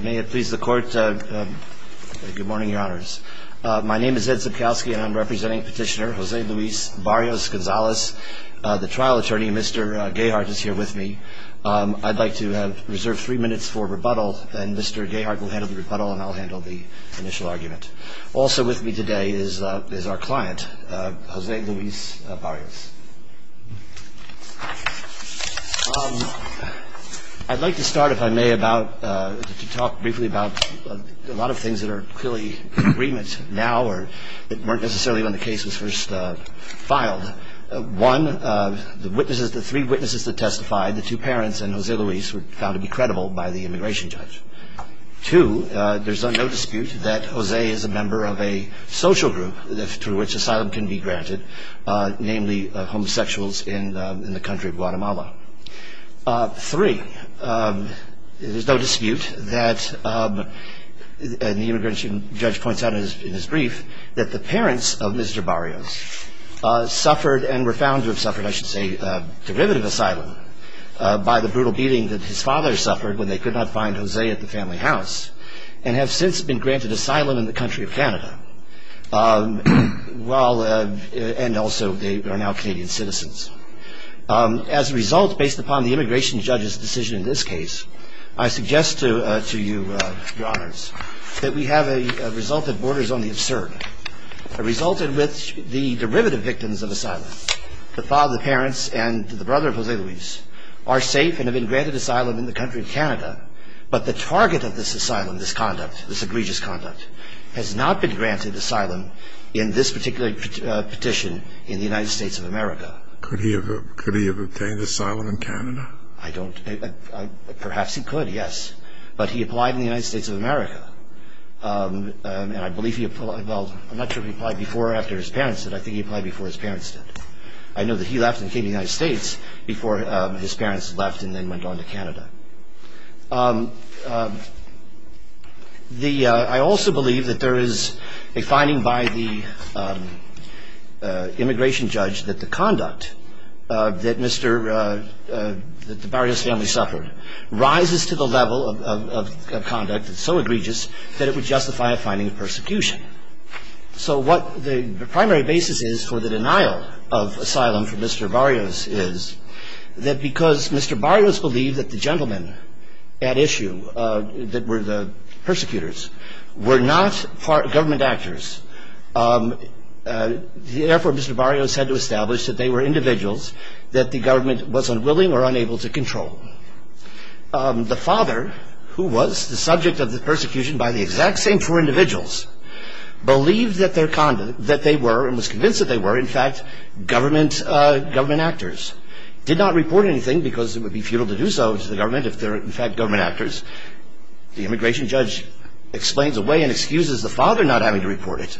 May it please the Court, good morning, Your Honors. My name is Ed Zabkowski and I'm representing Petitioner Jose Luis Barrios-Gonzalez. The trial attorney, Mr. Gayhart, is here with me. I'd like to reserve three minutes for rebuttal, then Mr. Gayhart will handle the rebuttal and I'll handle the initial argument. Also with me today is our client, Jose Luis Barrios. I'd like to start, if I may, to talk briefly about a lot of things that are clearly in agreement now or weren't necessarily when the case was first filed. One, the witnesses, the three witnesses that testified, the two parents and Jose Luis, were found to be credible by the immigration judge. Two, there's no dispute that Jose is a member of a social group through which asylum can be granted, namely homosexuals in the country of Guatemala. Three, there's no dispute that the immigration judge points out in his brief that the parents of Mr. Barrios suffered and were found to have suffered, I should say, derivative asylum by the brutal beating that his father suffered when they could not find Jose at the family house and have since been granted asylum in the country of Canada, and also they are now Canadian citizens. As a result, based upon the immigration judge's decision in this case, I suggest to you, Your Honors, that we have a result that borders on the absurd. A result in which the derivative victims of asylum, the father, the parents, and the brother of Jose Luis, are safe and have been granted asylum in the country of Canada, but the target of this asylum, this conduct, this egregious conduct, has not been granted asylum in this particular petition in the United States of America. Could he have obtained asylum in Canada? I don't, perhaps he could, yes, but he applied in the United States of America, and I believe he, well, I'm not sure if he applied before or after his parents did. I think he applied before his parents did. I know that he left and came to the United States before his parents left and then went on to Canada. I also believe that there is a finding by the immigration judge that the conduct that Mr. Barrios' family suffered rises to the level of conduct that's so egregious that it would justify a finding of persecution. So what the primary basis is for the denial of asylum for Mr. Barrios is that because Mr. Barrios believed that the gentlemen at issue, that were the persecutors, were not government actors, therefore Mr. Barrios had to establish that they were individuals that the government was unwilling or unable to control. The father, who was the subject of the persecution by the exact same four individuals, believed that they were, and was convinced that they were, in fact, government actors, did not report anything because it would be futile to do so to the government if they were, in fact, government actors. The immigration judge explains away and excuses the father not having to report it,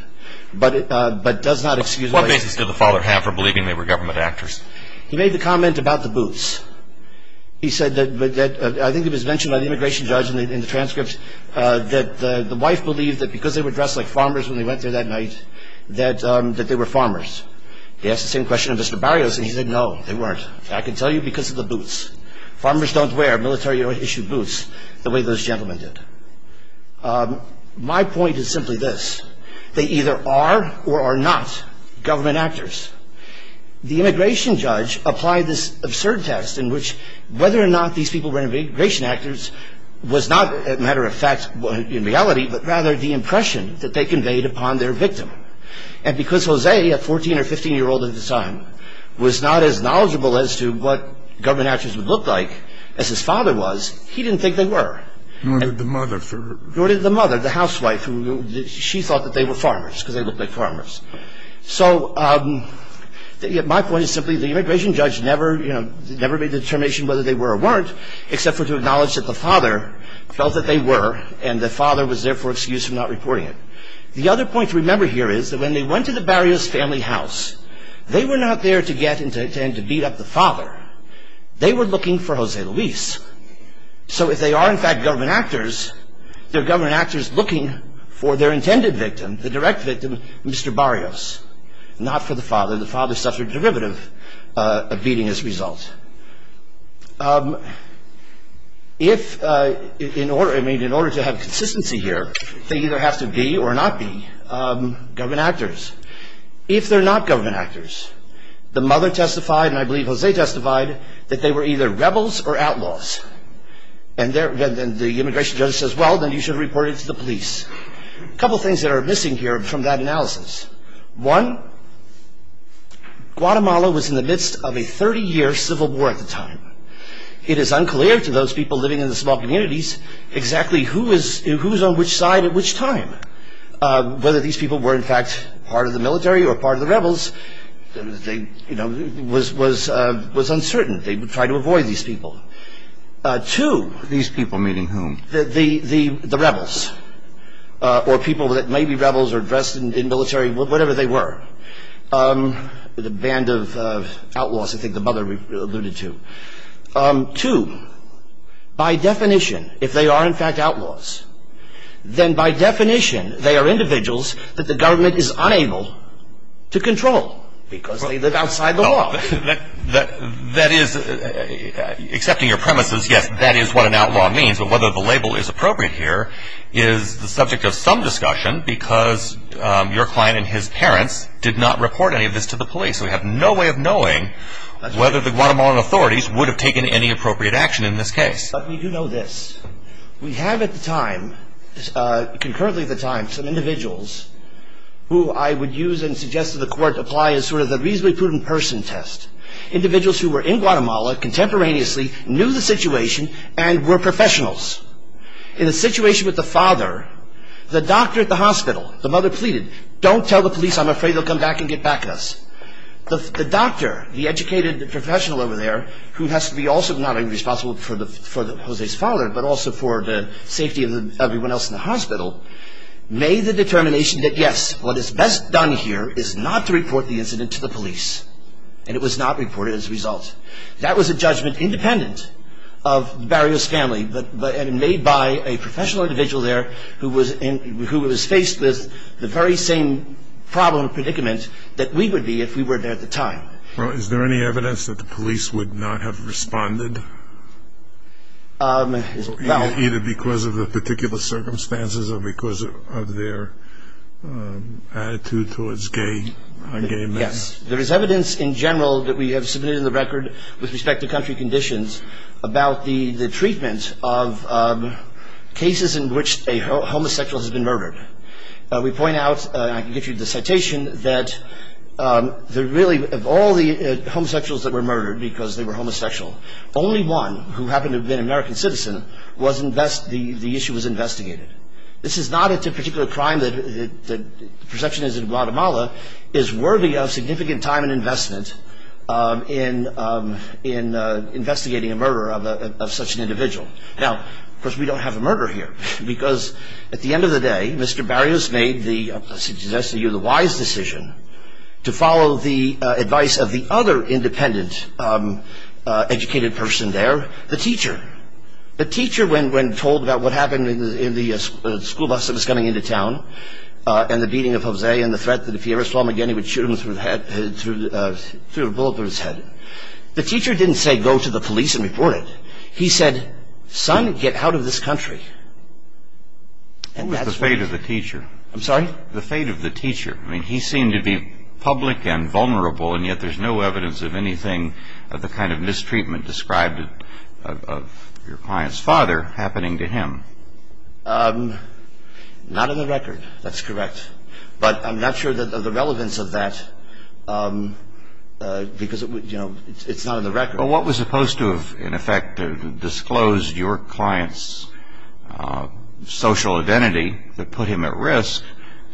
but does not excuse it. What basis did the father have for believing they were government actors? He made the comment about the boots. He said that, I think it was mentioned by the immigration judge in the transcript, that the wife believed that because they were dressed like farmers when they went there that night, that they were farmers. He asked the same question of Mr. Barrios and he said no, they weren't. I can tell you because of the boots. Farmers don't wear military-issued boots the way those gentlemen did. My point is simply this. They either are or are not government actors. The immigration judge applied this absurd test in which whether or not these people were immigration actors was not a matter of fact in reality, but rather the impression that they conveyed upon their victim. And because Jose, a 14 or 15-year-old at the time, was not as knowledgeable as to what government actors would look like as his father was, he didn't think they were. Nor did the mother. Nor did the mother, the housewife. She thought that they were farmers because they looked like farmers. So my point is simply the immigration judge never made the determination whether they were or weren't except for to acknowledge that the father felt that they were and the father was there for excuse for not reporting it. The other point to remember here is that when they went to the Barrios family house, they were not there to get and to beat up the father. They were looking for Jose Luis. So if they are in fact government actors, they're government actors looking for their intended victim, the direct victim, Mr. Barrios. Not for the father. The father suffered a derivative of beating as a result. If in order to have consistency here, they either have to be or not be government actors. If they're not government actors, the mother testified, and I believe Jose testified, that they were either rebels or outlaws. And the immigration judge says, well, then you should report it to the police. A couple things that are missing here from that analysis. One, Guatemala was in the midst of a 30-year civil war at the time. It is unclear to those people living in the small communities exactly who is on which side at which time. Whether these people were in fact part of the military or part of the rebels was uncertain. They tried to avoid these people. Two. These people meaning whom? The rebels. Or people that may be rebels or dressed in military, whatever they were. The band of outlaws I think the mother alluded to. Two. By definition, if they are in fact outlaws, then by definition, they are individuals that the government is unable to control because they live outside the law. That is, accepting your premises, yes, that is what an outlaw means. But whether the label is appropriate here is the subject of some discussion because your client and his parents did not report any of this to the police. We have no way of knowing whether the Guatemalan authorities would have taken any appropriate action in this case. But we do know this. We have at the time, concurrently at the time, some individuals who I would use and suggest to the court to apply as sort of the reasonably prudent person test. Individuals who were in Guatemala contemporaneously, knew the situation, and were professionals. In a situation with the father, the doctor at the hospital, the mother pleaded, don't tell the police, I'm afraid they'll come back and get back at us. The doctor, the educated professional over there, who has to be also not only responsible for Jose's father, but also for the safety of everyone else in the hospital, made the determination that yes, what is best done here is not to report the incident to the police. And it was not reported as a result. That was a judgment independent of Barrio's family, but made by a professional individual there who was faced with the very same problem and predicament that we would be if we were there at the time. Is there any evidence that the police would not have responded? Either because of the particular circumstances or because of their attitude towards gay men? Yes. There is evidence in general that we have submitted in the record with respect to country conditions about the treatment of cases in which a homosexual has been murdered. We point out, and I can give you the citation, that really of all the homosexuals that were murdered because they were homosexual, only one, who happened to have been an American citizen, the issue was investigated. This is not a particular crime that the perception is in Guatemala, is worthy of significant time and investment in investigating a murder of such an individual. Now, of course, we don't have a murder here because at the end of the day, Mr. Barrio's made the wise decision to follow the advice of the other independent educated person there, the teacher. The teacher, when told about what happened in the school bus that was coming into town and the beating of Jose and the threat that if he ever saw him again, he would shoot him through a bullet through his head, the teacher didn't say go to the police and report it. He said, son, get out of this country. What was the fate of the teacher? I'm sorry? The fate of the teacher. I mean, he seemed to be public and vulnerable, and yet there's no evidence of anything of the kind of mistreatment described of your client's father happening to him. Not on the record. That's correct. But I'm not sure of the relevance of that because it's not on the record. Well, what was supposed to have, in effect, disclosed your client's social identity that put him at risk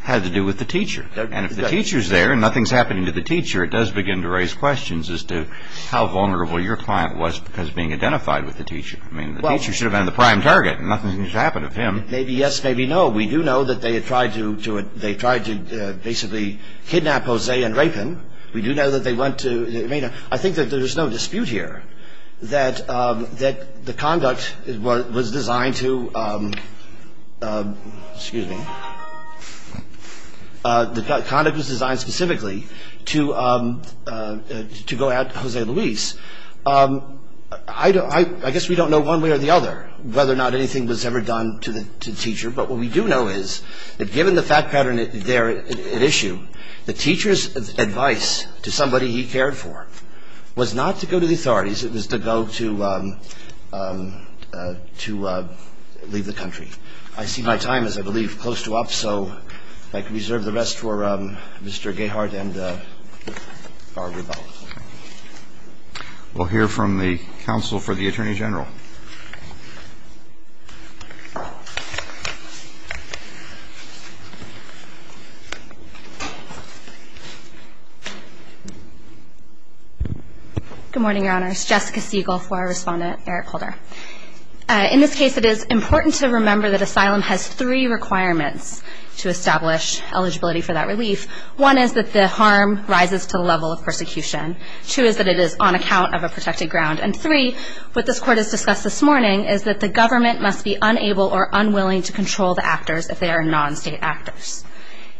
had to do with the teacher. And if the teacher's there and nothing's happening to the teacher, it does begin to raise questions as to how vulnerable your client was because of being identified with the teacher. I mean, the teacher should have been the prime target and nothing happened to him. Maybe yes, maybe no. We do know that they tried to basically kidnap Jose and rape him. We do know that they went to – I think that there's no dispute here that the conduct was designed to – excuse me. The conduct was designed specifically to go at Jose Luis. I guess we don't know one way or the other whether or not anything was ever done to the teacher, but what we do know is that given the fact pattern there at issue, the teacher's advice to somebody he cared for was not to go to the authorities. It was to go to leave the country. I see my time is, I believe, close to up, so if I could reserve the rest for Mr. Gayhart and Barbara Bell. We'll hear from the counsel for the Attorney General. Good morning, Your Honors. Jessica Siegel for our Respondent, Eric Holder. In this case, it is important to remember that asylum has three requirements to establish eligibility for that relief. One is that the harm rises to the level of persecution. Two is that it is on account of a protected ground. And three, what this Court has discussed this morning is that the government must be unable or unwilling to control the actors if they are non-state actors.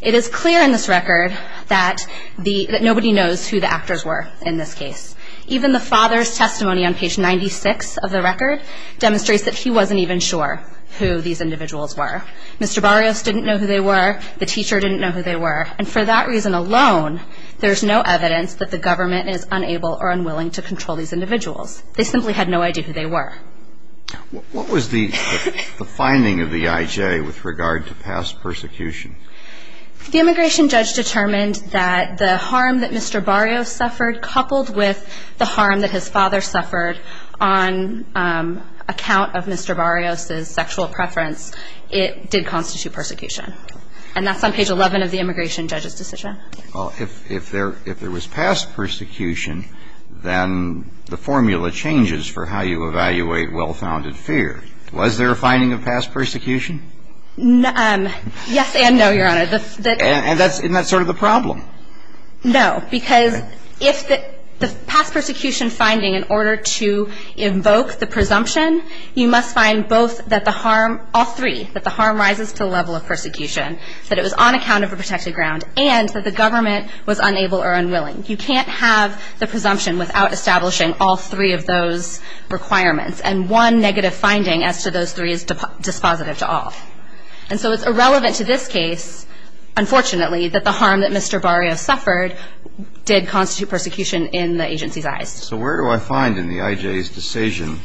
It is clear in this record that nobody knows who the actors were in this case. Even the father's testimony on page 96 of the record demonstrates that he wasn't even sure who these individuals were. Mr. Barrios didn't know who they were. The teacher didn't know who they were. And for that reason alone, there's no evidence that the government is unable or unwilling to control these individuals. They simply had no idea who they were. What was the finding of the IJ with regard to past persecution? The immigration judge determined that the harm that Mr. Barrios suffered coupled with the harm that his father suffered on account of Mr. Barrios' sexual preference, it did constitute persecution. And that's on page 11 of the immigration judge's decision. Well, if there was past persecution, then the formula changes for how you evaluate well-founded fear. Was there a finding of past persecution? Yes and no, Your Honor. And that's sort of the problem. No, because if the past persecution finding, in order to invoke the presumption, you must find both that the harm, all three, that the harm rises to the level of persecution, that it was on account of a protected ground, and that the government was unable or unwilling. You can't have the presumption without establishing all three of those requirements. And one negative finding as to those three is dispositive to all. And so it's irrelevant to this case, unfortunately, that the harm that Mr. Barrios suffered did constitute persecution in the agency's eyes. So where do I find in the IJ's decision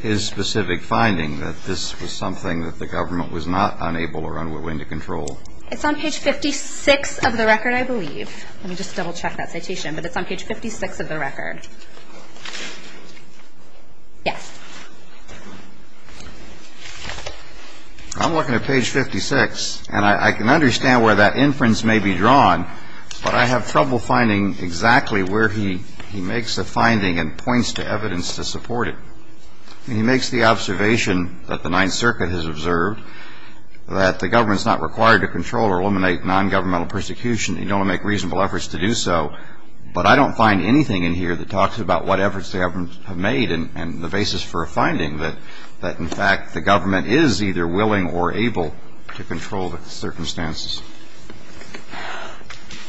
his specific finding that this was something that the government was not unable or unwilling to control? It's on page 56 of the record, I believe. Let me just double-check that citation, but it's on page 56 of the record. Yes. I'm looking at page 56, and I can understand where that inference may be drawn, but I have trouble finding exactly where he makes a finding and points to evidence to support it. He makes the observation that the Ninth Circuit has observed that the government's not required to control or eliminate nongovernmental persecution. They don't make reasonable efforts to do so. But I don't find anything in here that talks about what efforts the government have made and the basis for a finding that, in fact, the government is either willing or able to control the circumstances.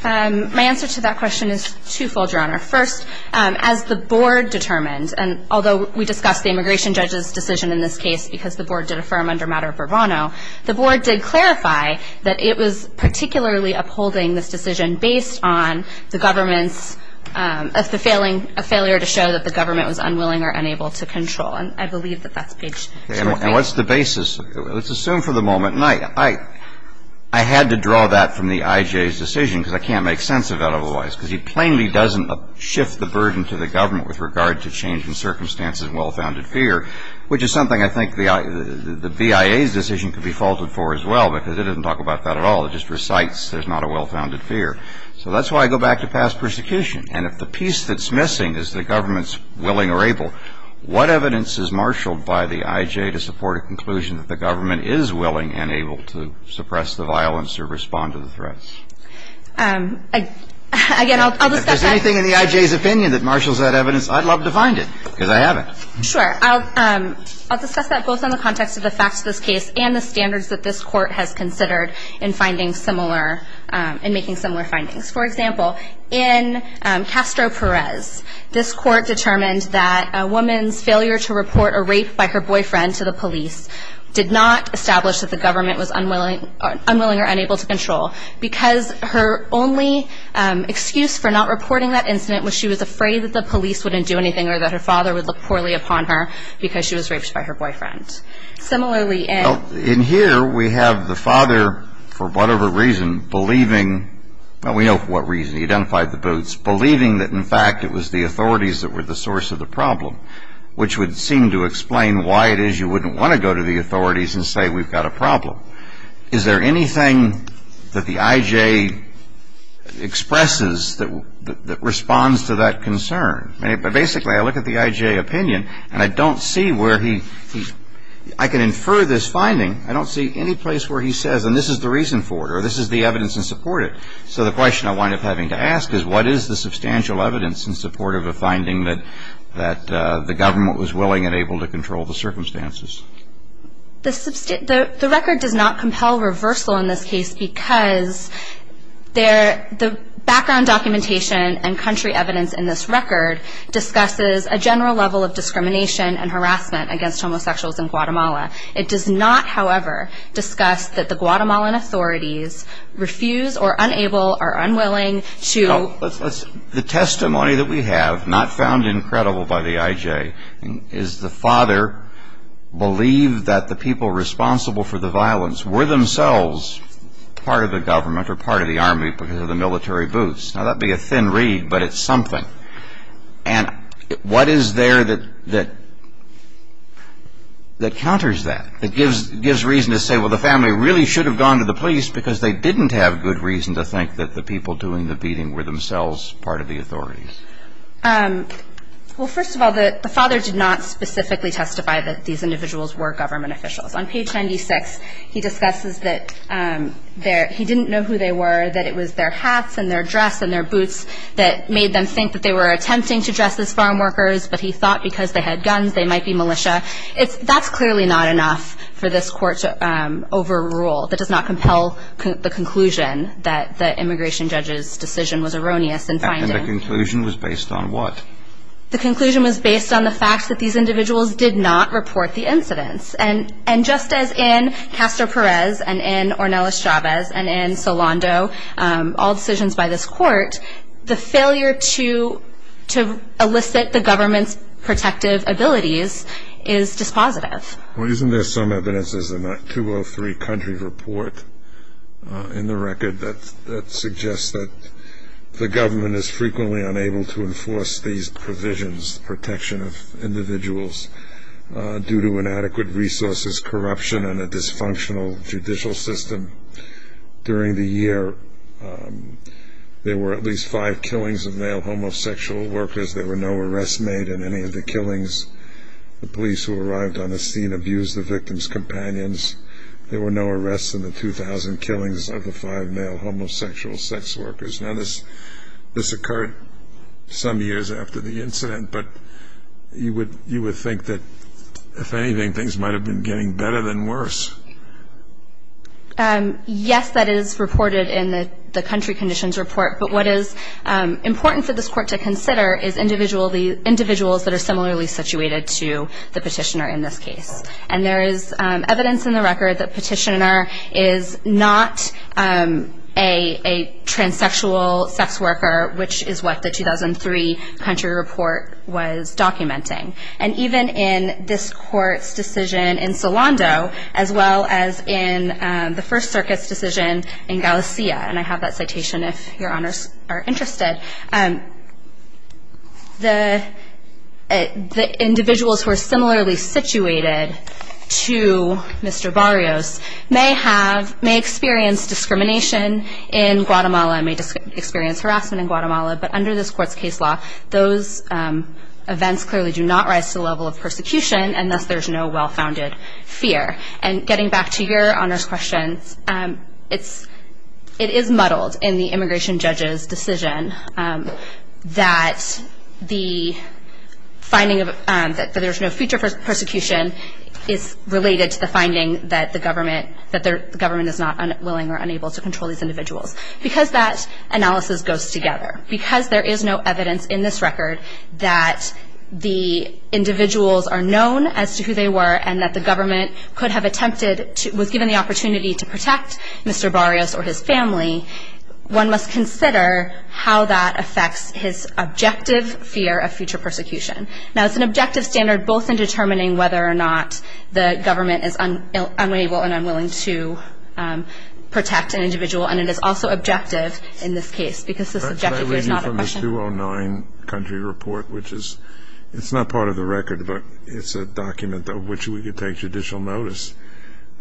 My answer to that question is twofold, Your Honor. First, as the board determined, and although we discussed the immigration judge's decision in this case because the board did affirm under matter of bravado, the board did clarify that it was particularly upholding this decision based on the government's failure to show that the government was unwilling or unable to control. And I believe that that's page 58. And what's the basis? Let's assume for the moment, and I had to draw that from the IJ's decision because I can't make sense of that otherwise, because he plainly doesn't shift the burden to the government with regard to changing circumstances and well-founded fear, which is something I think the BIA's decision could be faulted for as well, because it doesn't talk about that at all. It just recites there's not a well-founded fear. So that's why I go back to past persecution. And if the piece that's missing is the government's willing or able, what evidence is marshaled by the IJ to support a conclusion that the government is willing and able to suppress the violence or respond to the threats? Again, I'll discuss that. If there's anything in the IJ's opinion that marshals that evidence, I'd love to find it because I haven't. Sure. I'll discuss that both in the context of the facts of this case and the standards that this court has considered in making similar findings. For example, in Castro Perez, this court determined that a woman's failure to report a rape by her boyfriend to the police did not establish that the government was unwilling or unable to control, because her only excuse for not reporting that incident was she was afraid that the police wouldn't do anything or that her father would look poorly upon her because she was raped by her boyfriend. In here, we have the father, for whatever reason, believing, well, we know for what reason, he identified the boots, believing that in fact it was the authorities that were the source of the problem, which would seem to explain why it is you wouldn't want to go to the authorities and say we've got a problem. Is there anything that the IJ expresses that responds to that concern? Basically, I look at the IJ opinion, and I don't see where he, I can infer this finding. I don't see any place where he says, and this is the reason for it, or this is the evidence in support of it. So the question I wind up having to ask is, what is the substantial evidence in support of the finding that the government was willing and able to control the circumstances? The record does not compel reversal in this case because the background documentation and country evidence in this record discusses a general level of discrimination and harassment against homosexuals in Guatemala. It does not, however, discuss that the Guatemalan authorities refuse or are unable or unwilling to. The testimony that we have, not found in credible by the IJ, is the father believed that the people responsible for the violence were themselves part of the government or part of the Army because of the military boots. Now, that would be a thin reed, but it's something. And what is there that counters that, that gives reason to say, well, the family really should have gone to the police because they didn't have good reason to think that the people doing the beating were themselves part of the authorities? Well, first of all, the father did not specifically testify that these individuals were government officials. On page 96, he discusses that he didn't know who they were, that it was their hats and their dress and their boots that made them think that they were attempting to dress as farm workers, but he thought because they had guns they might be militia. That's clearly not enough for this Court to overrule. That does not compel the conclusion that the immigration judge's decision was erroneous in finding. And the conclusion was based on what? The conclusion was based on the fact that these individuals did not report the incidents. And just as in Castro Perez and in Ornelas Chavez and in Solando, all decisions by this Court, the failure to elicit the government's protective abilities is dispositive. Well, isn't there some evidence in the 203 country report in the record that suggests that the government is frequently unable to enforce these provisions, protection of individuals, due to inadequate resources, corruption, and a dysfunctional judicial system? During the year, there were at least five killings of male homosexual workers. There were no arrests made in any of the killings. The police who arrived on the scene abused the victims' companions. There were no arrests in the 2,000 killings of the five male homosexual sex workers. Now, this occurred some years after the incident. But you would think that, if anything, things might have been getting better than worse. Yes, that is reported in the country conditions report. But what is important for this Court to consider is individuals that are similarly situated to the petitioner in this case. And there is evidence in the record that petitioner is not a transsexual sex worker, which is what the 2003 country report was documenting. And even in this Court's decision in Solando, as well as in the First Circuit's decision in Galicia, and I have that citation if Your Honors are interested, the individuals who are similarly situated to Mr. Barrios may experience discrimination in Guatemala and may experience harassment in Guatemala. But under this Court's case law, those events clearly do not rise to the level of persecution, and thus there is no well-founded fear. And getting back to Your Honors' questions, it is muddled in the immigration judge's decision that the finding that there is no future persecution is related to the finding that the government is not willing or unable to control these individuals. Because that analysis goes together. Because there is no evidence in this record that the individuals are known as to who they were and that the government was given the opportunity to protect Mr. Barrios or his family, one must consider how that affects his objective fear of future persecution. Now, it's an objective standard both in determining whether or not the government is unable and unwilling to protect an individual, and it is also objective in this case, because this objective fear is not a question. This is from the 209 country report, which is not part of the record, but it's a document of which we could take judicial notice.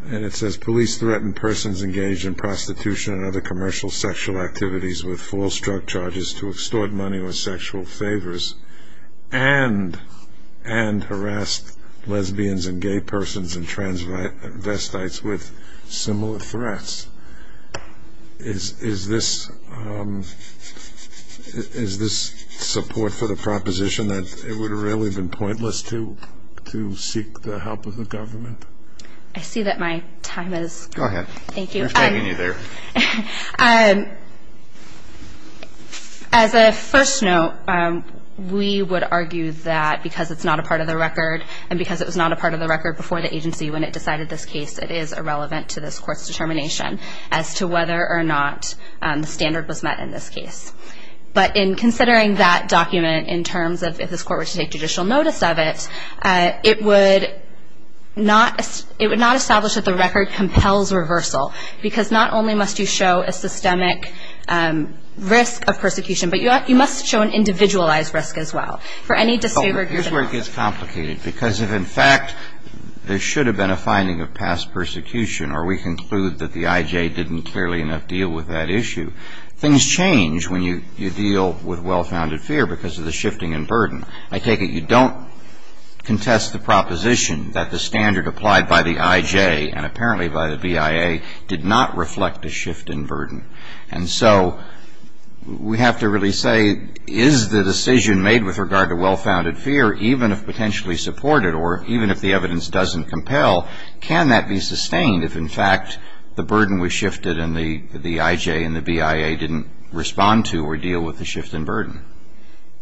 And it says, Police threaten persons engaged in prostitution and other commercial sexual activities with false drug charges to extort money or sexual favors and harass lesbians and gay persons and transvestites with similar threats. Is this support for the proposition that it would have really been pointless to seek the help of the government? I see that my time is up. Go ahead. Thank you. We're taking you there. As a first note, we would argue that because it's not a part of the record and because it was not a part of the record before the agency when it decided this case, it is irrelevant to this Court's determination as to whether or not the standard was met in this case. But in considering that document in terms of if this Court were to take judicial notice of it, it would not establish that the record compels reversal, because not only must you show a systemic risk of persecution, but you must show an individualized risk as well for any disabled person. Here's where it gets complicated, because if in fact there should have been a finding of past persecution or we conclude that the IJ didn't clearly enough deal with that issue, things change when you deal with well-founded fear because of the shifting in burden. I take it you don't contest the proposition that the standard applied by the IJ and apparently by the BIA did not reflect a shift in burden. And so we have to really say, is the decision made with regard to well-founded fear, even if potentially supported or even if the evidence doesn't compel, can that be sustained if in fact the burden was shifted and the IJ and the BIA didn't respond to or deal with the shift in burden?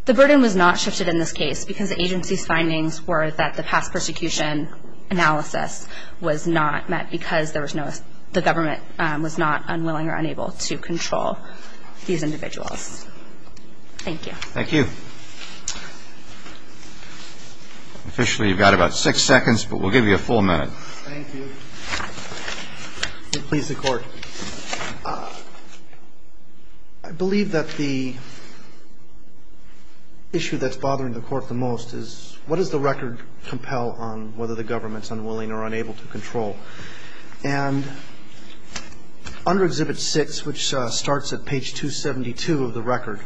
The burden was not shifted in this case because the agency's findings were that the past persecution analysis was not met because the government was not unwilling or unable to control these individuals. Thank you. Officially you've got about six seconds, but we'll give you a full minute. Thank you. Please, the Court. I believe that the issue that's bothering the Court the most is, what does the record compel on whether the government's unwilling or unable to control? And under Exhibit 6, which starts at page 272 of the record,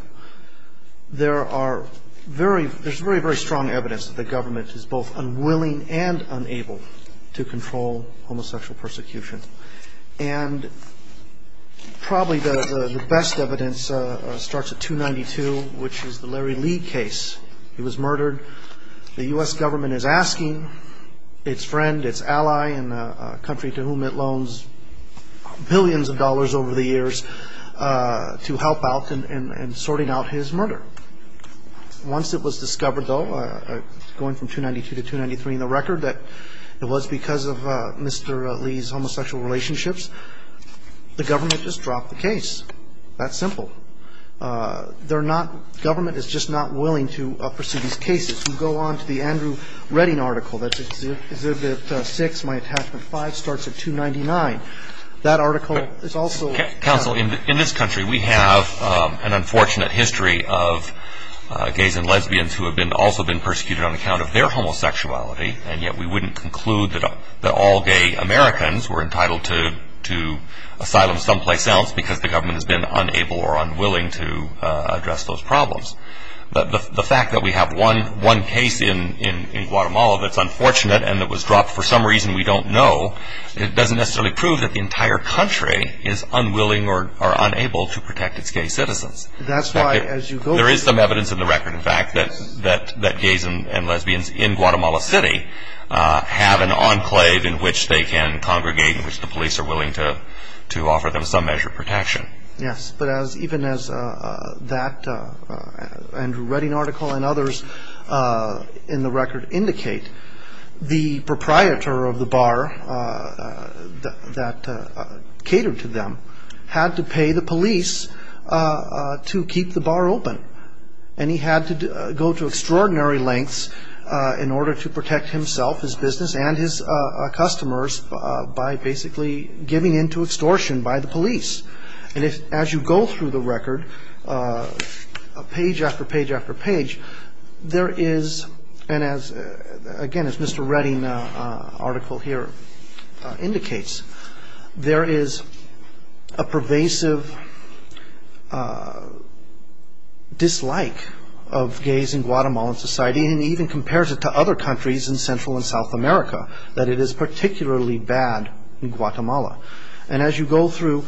there's very, very strong evidence that the government is both unwilling and unable to control homosexual persecution. And probably the best evidence starts at 292, which is the Larry Lee case. He was murdered. The U.S. government is asking its friend, its ally in a country to whom it loans billions of dollars over the years to help out in sorting out his murder. Once it was discovered, though, going from 292 to 293 in the record, that it was because of Mr. Lee's homosexual relationships, the government just dropped the case. That simple. Government is just not willing to pursue these cases. We go on to the Andrew Redding article. That's Exhibit 6, my attachment 5, starts at 299. That article is also- Counsel, in this country we have an unfortunate history of gays and lesbians who have also been persecuted on account of their homosexuality, and yet we wouldn't conclude that all gay Americans were entitled to asylum someplace else because the government has been unable or unwilling to address those problems. The fact that we have one case in Guatemala that's unfortunate and that was dropped for some reason we don't know, it doesn't necessarily prove that the entire country is unwilling or unable to protect its gay citizens. There is some evidence in the record, in fact, that gays and lesbians in Guatemala City have an enclave in which they can congregate and in which the police are willing to offer them some measure of protection. Yes, but even as that Andrew Redding article and others in the record indicate, the proprietor of the bar that catered to them had to pay the police to keep the bar open, and he had to go to extraordinary lengths in order to protect himself, his business, and his customers by basically giving in to extortion by the police. And as you go through the record, page after page after page, there is, and again, as Mr. Redding's article here indicates, there is a pervasive dislike of gays in Guatemalan society, and he even compares it to other countries in Central and South America, that it is particularly bad in Guatemala. And as you go through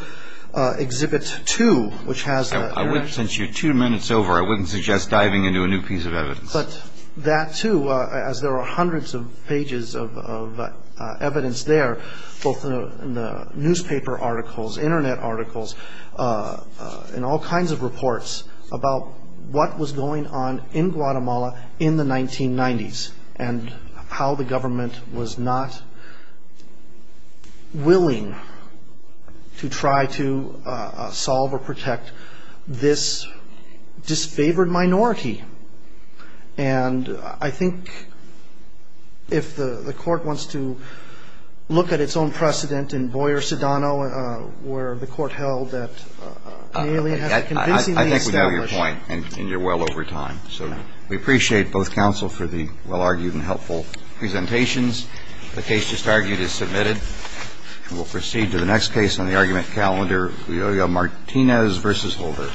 Exhibit 2, which has... Since you're two minutes over, I wouldn't suggest diving into a new piece of evidence. But that too, as there are hundreds of pages of evidence there, both in the newspaper articles, Internet articles, and all kinds of reports about what was going on in Guatemala in the 1990s and how the government was not willing to try to solve or protect this disfavored minority. And I think if the court wants to look at its own precedent in Boyer-Sedano, where the court held that the alien had convincingly established... I think we know your point, and you're well over time. So we appreciate both counsel for the well-argued and helpful presentations. The case just argued is submitted. And we'll proceed to the next case on the argument calendar, Julio Martinez v. Holder.